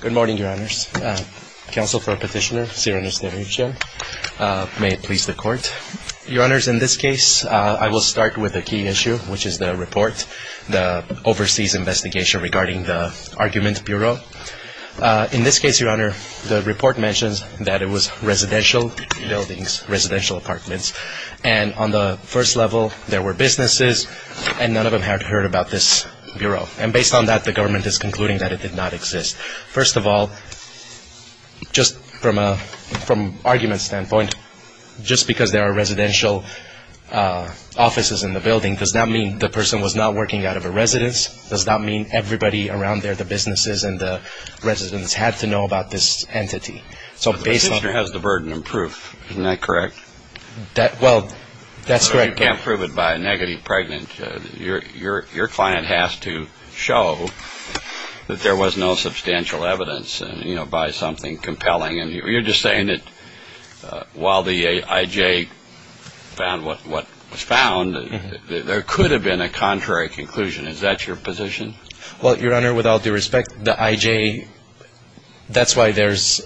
Good morning, Your Honors. Counsel for Petitioner, Siranush Demirchian. May it please the Court. Your Honors, in this case, I will start with a key issue, which is the report, the overseas investigation regarding the argument bureau. In this case, Your Honor, the report mentions that it was residential buildings, residential apartments, and on the first level there were businesses and none of them had heard about this bureau. And based on that, the government is concluding that it did not exist. First of all, just from an argument standpoint, just because there are residential offices in the building does not mean the person was not working out of a residence, does not mean everybody around there, the businesses and the residents, had to know about this entity. So based on... But the petitioner has the burden of proof. Isn't that correct? Well, that's correct. But you can't prove it by a negative pregnant. Your client has to show that there was no substantial evidence, you know, by something compelling. You're just saying that while the I.J. found what was found, there could have been a contrary conclusion. Is that your position? Well, Your Honor, with all due respect, the I.J., that's why there's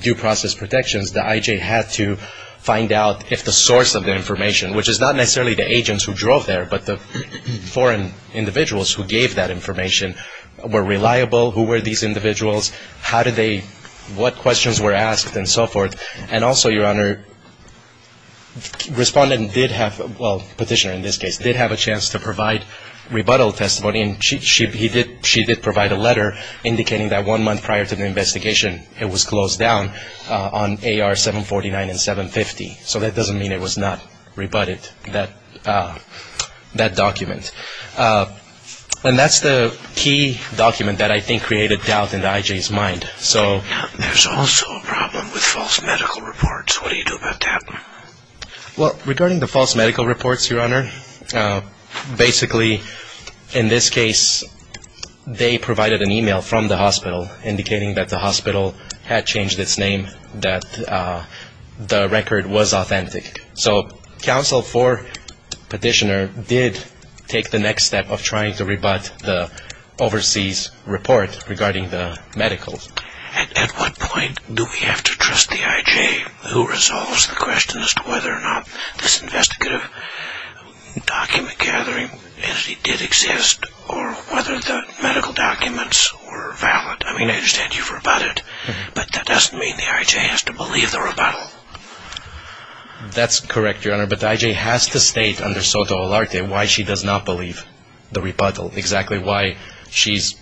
due process protections. The I.J. had to find out if the source of the information, which is not necessarily the agents who drove there, but the foreign individuals who gave that information, were reliable, who were these individuals, how did they, what questions were asked, and so forth. And also, Your Honor, respondent did have, well, petitioner in this case, did have a chance to provide rebuttal testimony, and she did provide a letter indicating that one 749 and 750. So that doesn't mean it was not rebutted, that document. And that's the key document that I think created doubt in the I.J.'s mind. There's also a problem with false medical reports. What do you do about that? Well, regarding the false medical reports, Your Honor, basically, in this case, they provided an email from the hospital indicating that the hospital had changed its name, that the record was authentic. So counsel for petitioner did take the next step of trying to rebut the overseas report regarding the medicals. At what point do we have to trust the I.J. who resolves the question as to whether or not this investigative document gathering entity did exist, or whether the medical documents were valid? I mean, I understand you've rebutted, but that doesn't mean the I.J. has to believe the rebuttal. That's correct, Your Honor, but the I.J. has to state under soto alarte why she does not believe the rebuttal, exactly why she's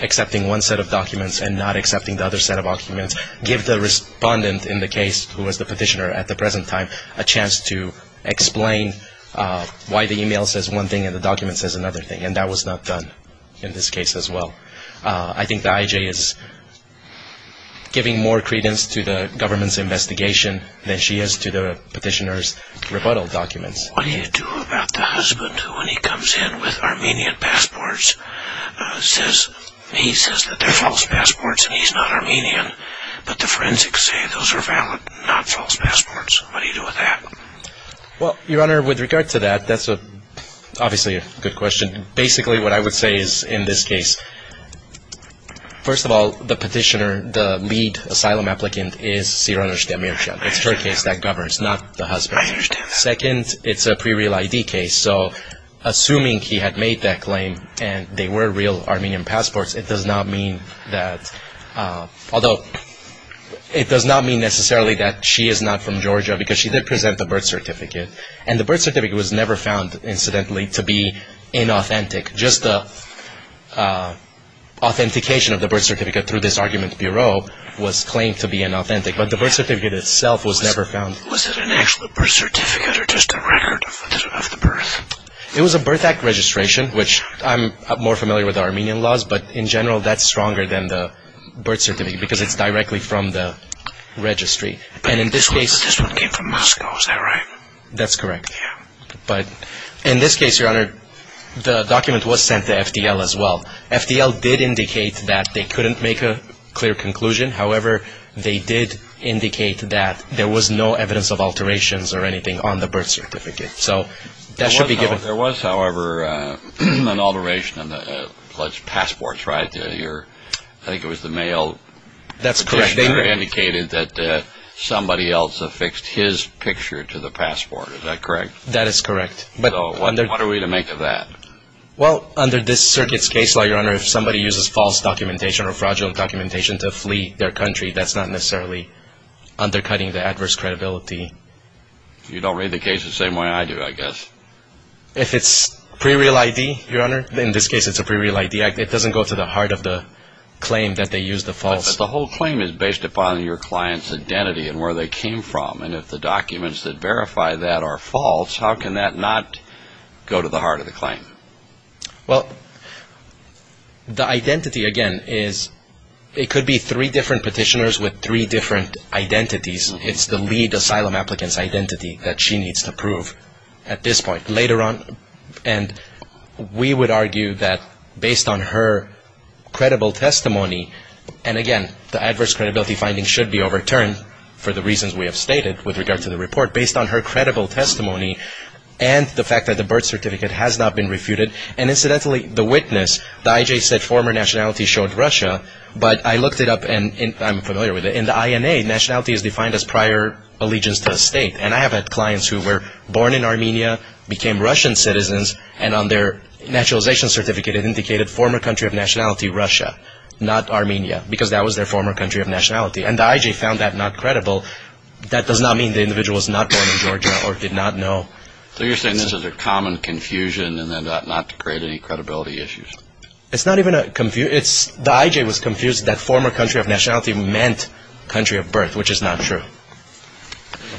accepting one set of documents and not accepting the other set of documents, give the respondent in the case, who was the petitioner at the present time, a chance to explain why the email says one thing and the document says another thing, and that was not done in this case as well. I think the I.J. is giving more evidence, investigation, than she is to the petitioner's rebuttal documents. What do you do about the husband who, when he comes in with Armenian passports, he says that they're false passports and he's not Armenian, but the forensics say those are valid, not false passports. What do you do with that? Well, Your Honor, with regard to that, that's obviously a good question. Basically what I would say is, in this case, first of all, the petitioner, the lead asylum applicant is Siranush Demirchan. It's her case that governs, not the husband's. Second, it's a pre-real ID case, so assuming he had made that claim and they were real Armenian passports, it does not mean that, although it does not mean necessarily that she is not from Georgia because she did present the birth certificate, and the birth certificate was never found, incidentally, to be inauthentic. Just the authentication of the birth certificate through this argument bureau was claimed to be inauthentic, but the birth certificate itself was never found. Was it an actual birth certificate or just a record of the birth? It was a birth act registration, which I'm more familiar with Armenian laws, but in general that's stronger than the birth certificate because it's directly from the registry, and in this case... But this one came from Moscow, is that right? That's correct. Yeah. But in this case, Your Honor, the document was sent to FDL as well. FDL did indicate that they couldn't make a clear conclusion, however, they did indicate that there was no evidence of alterations or anything on the birth certificate, so that should be given... There was, however, an alteration on the passport, right? I think it was the mail... That's correct. ...indicated that somebody else affixed his picture to the passport, is that correct? That is correct. So what are we to make of that? Well, under this circuit's case law, Your Honor, if somebody uses false documentation or fraudulent documentation to flee their country, that's not necessarily undercutting the adverse credibility. You don't read the case the same way I do, I guess. If it's pre-real ID, Your Honor, in this case it's a pre-real ID, it doesn't go to the heart of the claim that they used the false... But the whole claim is based upon your client's identity and where they came from, and if the documents that verify that are false, how can that not go to the heart of the claim? Well, the identity, again, is... It could be three different petitioners with three different identities. It's the lead asylum applicant's identity that she needs to prove at this point. Later on, and we would argue that based on her credible testimony, and again, the adverse credibility finding should be overturned for the reasons we have stated with regard to the report, based on her credible testimony and the fact that the birth certificate has not been refuted. And incidentally, the witness, the IJ said former nationality showed Russia, but I looked it up and I'm familiar with it. In the INA, nationality is defined as prior allegiance to a state, and I have had clients who were born in Armenia, became Russian citizens, and on their naturalization certificate it indicated former country of nationality, Russia, not Armenia, because that was their former country of nationality. And the IJ found that not credible. That does not mean the individual was not born in Georgia or did not know. So you're saying this is a common confusion and then not to create any credibility issues? It's not even a confusion. The IJ was confused that former country of nationality meant country of birth, which is not true.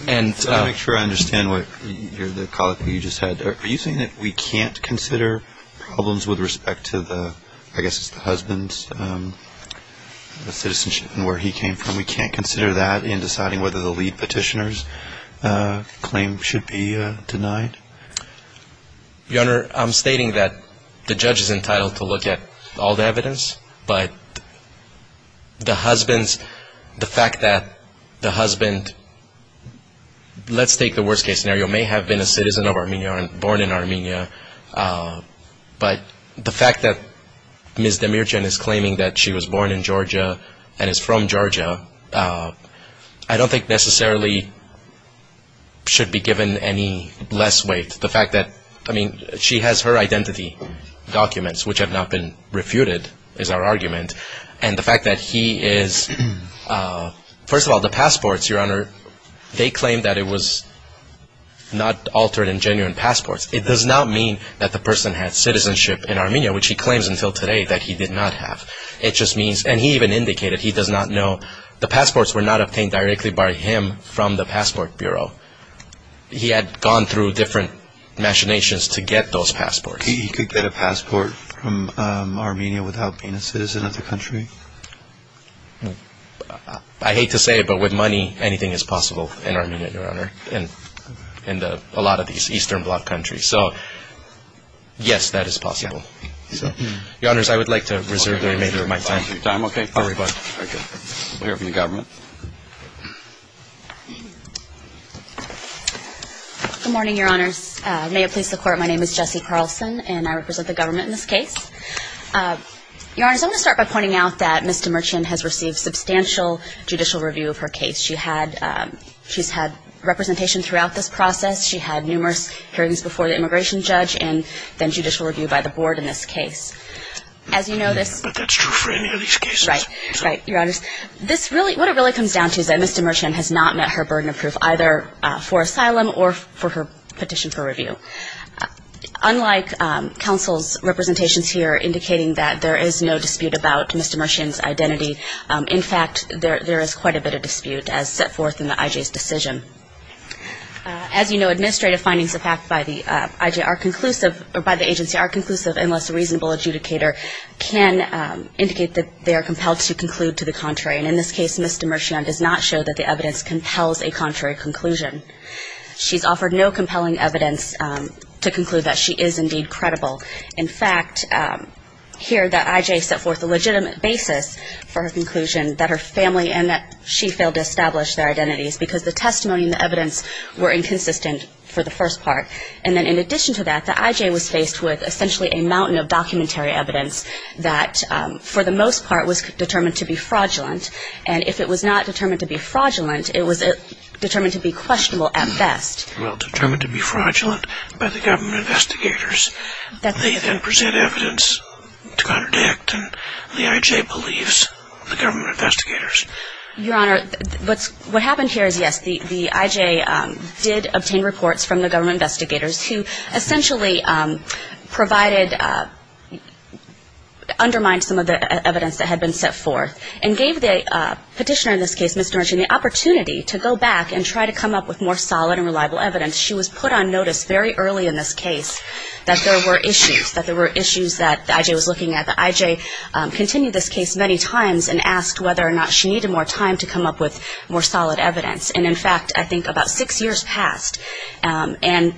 And to make sure I understand what the colleague you just had, are you saying that we can't consider problems with respect to the, I guess it's the husband's citizenship and where he came from, we can't consider that in deciding whether the lead petitioner's claim should be denied? Your Honor, I'm stating that the judge is entitled to look at all the evidence, but the husband's, the fact that the husband, let's take the worst case scenario, may have been a citizen of Armenia, born in Armenia, but the fact that Ms. Demirjian is claiming that she was born in Georgia and is from Georgia, I don't think necessarily should be given any less weight. The fact that, I mean, she has her identity documents, which have not been refuted, is our argument. And the fact that he is, first of all, the passports, Your Honor, they claim that it was not altered in genuine passports. It does not mean that the person had citizenship in Armenia, which he claims until today that he did not have. It just means, and he even indicated, he does not know, the passports were not obtained directly by him from the passport bureau. He had gone through different machinations to get those passports. He could get a passport from Armenia without being a citizen of the country? I hate to say it, but with money, anything is possible in Armenia, Your Honor, and in a lot of these Eastern Bloc countries. So, yes, that is possible. Your Honors, I would like to reserve the remainder of my time. Your time, okay. All right. Thank you. We'll hear from the government. Good morning, Your Honors. May it please the Court, my name is Jessie Carlson, and I represent the government in this case. Your Honors, I'm going to start by pointing out that Ms. Demirjian has received substantial judicial review of her case. She's had representation throughout this process. She had numerous hearings before the immigration judge and then judicial review by the board in this case. As you know, this But that's true for any of these cases. Right, right, Your Honors. This really, what it really comes down to is that Ms. Demirjian has not met her burden of proof, either for asylum or for her petition for review. Unlike counsel's representations here indicating that there is no dispute about Ms. Demirjian's identity, in fact, there is quite a bit of dispute as set forth in the IJ's decision. As you know, administrative findings of fact by the IJ are conclusive, or by the agency are conclusive unless a reasonable adjudicator can indicate that they are compelled to conclude to the contrary. And in this case, Ms. Demirjian does not show that the evidence compels a contrary conclusion. She's offered no compelling evidence to conclude that she is indeed credible. In fact, here the IJ set forth a legitimate basis for her conclusion that her family and that she failed to establish their identities because the testimony and the evidence were inconsistent for the first part. And then in addition to that, the IJ was faced with essentially a mountain of documentary evidence that, for the most part, was determined to be fraudulent. And if it was not determined to be fraudulent, it was determined to be questionable at best. Well, determined to be fraudulent by the government investigators. They then present evidence to contradict what the IJ believes the government investigators. Your Honor, what happened here is, yes, the IJ did obtain reports from the government investigators who essentially provided, undermined some of the evidence that had been set forth and gave the petitioner in this case, Ms. Demirjian, the opportunity to go back and try to come up with more solid and reliable evidence. She was put on notice very early in this case that there were issues, that there were issues that the IJ was looking at. The IJ continued this case many times and asked whether or not she needed more time to come up with more solid evidence. And in fact, I think about six years passed. And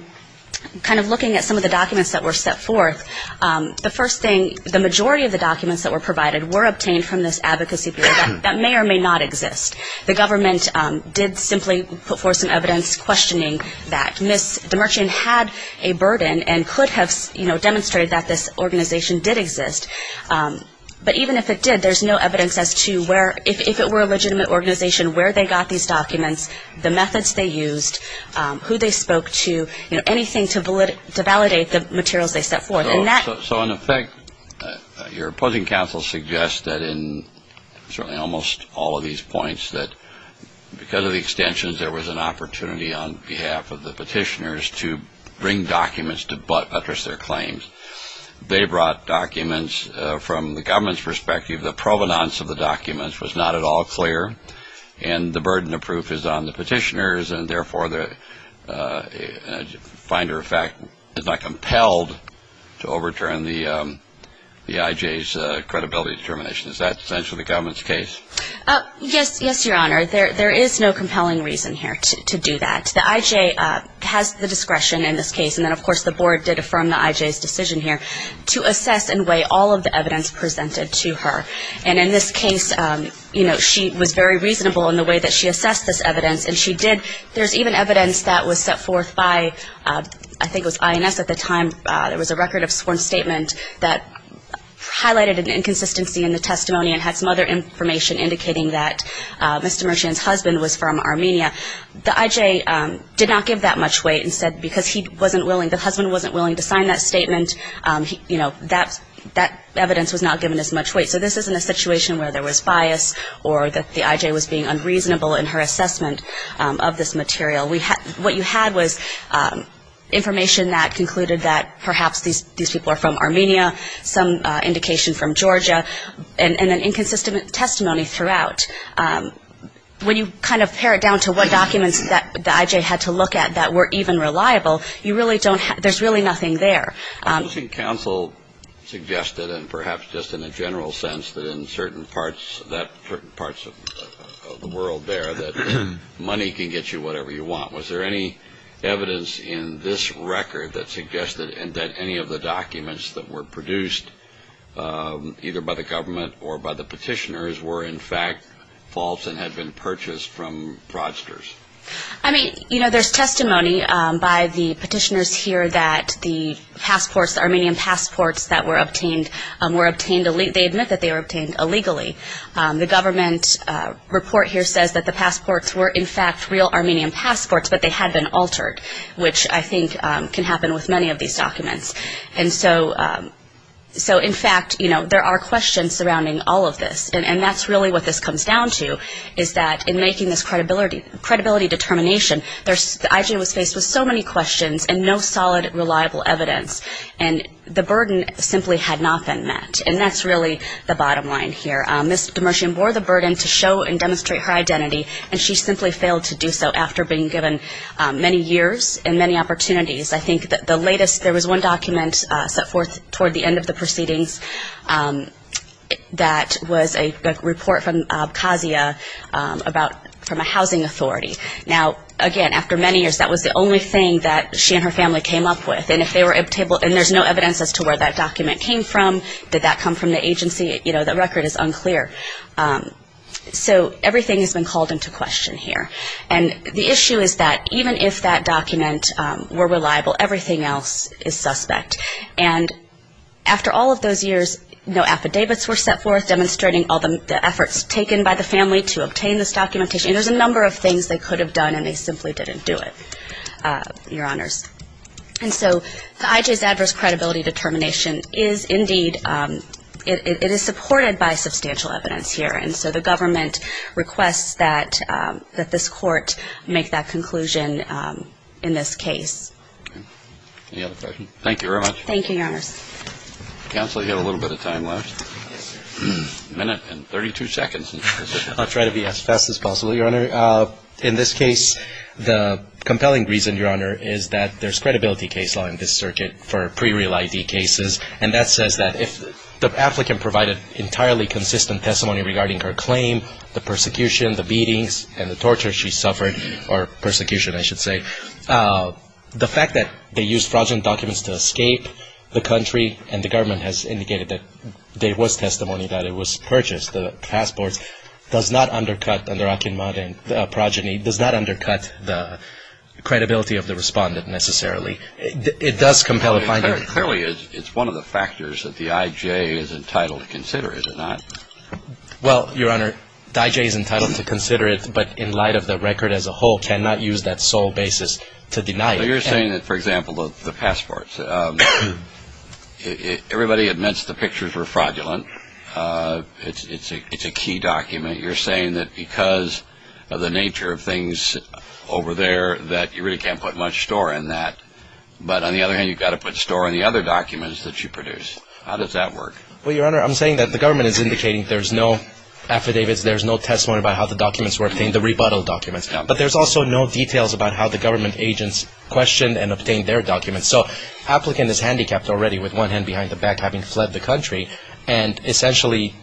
kind of looking at some of the documents that were set forth, the first thing, the majority of the documents that were provided were obtained from this advocacy group. That may or may not exist. The government did simply put forth some evidence questioning that Ms. Demirjian had a burden and could have, you know, demonstrated that this organization did exist. But even if it did, there's no evidence as to where, if it were a legitimate organization, where they got these documents, the methods they used, who they spoke to, you know, anything to validate the materials they set forth. And that So in effect, your opposing counsel suggests that in certainly almost all of these points that because of the extensions, there was an opportunity on behalf of the petitioners to bring documents to buttress their claims. They brought documents from the government's perspective. The provenance of the documents was not at all clear. And the burden of proof is on the petitioners. And therefore, the finder, in fact, is not compelled to overturn the IJ's credibility determination. Is that essentially the government's case? Yes, yes, your honor. There is no compelling reason here to do that. The IJ has the discretion in this case. And then, of course, the board did affirm the IJ's decision here to assess and weigh all of the evidence presented to her. And in this case, you know, she was very reasonable in the way that she assessed this evidence. And she did, there's even evidence that was set forth by, I think it was INS at the time, there was a record of sworn statement that highlighted an inconsistency in the testimony and had some other information indicating that Mr. Mershian's husband was from Armenia. The IJ did not give that much weight and said because he wasn't willing, the husband wasn't willing to sign that statement, you know, that evidence was not given as much weight. So this isn't a situation where there was bias or that the IJ was being unreasonable in her assessment of this material. What you had was information that concluded that perhaps these people are from Armenia, some indication from Georgia, and an inconsistent testimony throughout. When you kind of pare it down to what documents that the IJ had to look at that were even reliable, you really don't have, there's really nothing there. I'm guessing counsel suggested, and perhaps just in a general sense, that in certain parts of the world there, that money can get you whatever you want. Was there any evidence in this record that suggested that any of the documents that were produced, either by the government or by the petitioners, were in fact false and had been purchased from fraudsters? I mean, you know, there's testimony by the petitioners here that the passports, the Armenian passports were obtained illegally. The government report here says that the passports were in fact real Armenian passports, but they had been altered, which I think can happen with many of these documents. And so in fact, you know, there are questions surrounding all of this. And that's really what this comes down to, is that in making this credibility determination, the IJ was faced with so many questions and no solid, reliable evidence. And the burden simply had not been met. And that's really the bottom line here. Ms. Demircian bore the burden to show and demonstrate her identity, and she simply failed to do so after being given many years and many opportunities. I think that the latest, there was one document set forth toward the end of the proceedings that was a report from Abkhazia about, from a housing authority. Now, again, after many years, everything that she and her family came up with, and if they were able, and there's no evidence as to where that document came from, did that come from the agency, you know, the record is unclear. So everything has been called into question here. And the issue is that even if that document were reliable, everything else is suspect. And after all of those years, no affidavits were set forth demonstrating all the efforts taken by the family to obtain this documentation. And there's a number of things they could have done, and they simply didn't do it, Your Honors. And so the IJ's adverse credibility determination is indeed, it is supported by substantial evidence here. And so the government requests that this court make that conclusion in this case. Any other questions? Thank you very much. Thank you, Your Honors. Counsel, you have a little bit of time left. A minute and 32 seconds. I'll try to be as fast as possible, Your Honor. In this case, the compelling reason, Your Honor, is that there's credibility case law in this circuit for pre-real ID cases. And that says that if the applicant provided entirely consistent testimony regarding her claim, the persecution, the beatings, and the torture she suffered, or persecution, I should say, the fact that they used fraudulent documents to escape the country and the government has does not undercut, under Akinmada progeny, does not undercut the credibility of the respondent necessarily. It does compel a finding. Clearly, it's one of the factors that the IJ is entitled to consider, is it not? Well, Your Honor, the IJ is entitled to consider it, but in light of the record as a whole, cannot use that sole basis to deny it. So you're saying that, for example, the passports. Everybody admits the pictures were fraudulent. It's a key document. You're saying that because of the nature of things over there, that you really can't put much store in that. But on the other hand, you've got to put store in the other documents that you produce. How does that work? Well, Your Honor, I'm saying that the government is indicating there's no affidavits, there's no testimony about how the documents were obtained, the rebuttal documents. But there's also no details about how the government agents questioned and obtained their documents. So the applicant is handicapped already, with one hand behind the back, having fled the country. And essentially,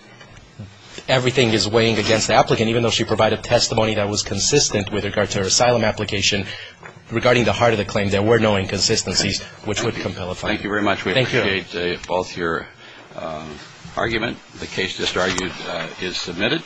everything is weighing against the applicant, even though she provided testimony that was consistent with regard to her asylum application, regarding the heart of the claim. There were no inconsistencies, which would compel a finding. Thank you very much. We appreciate both your argument. The case just argued is submitted.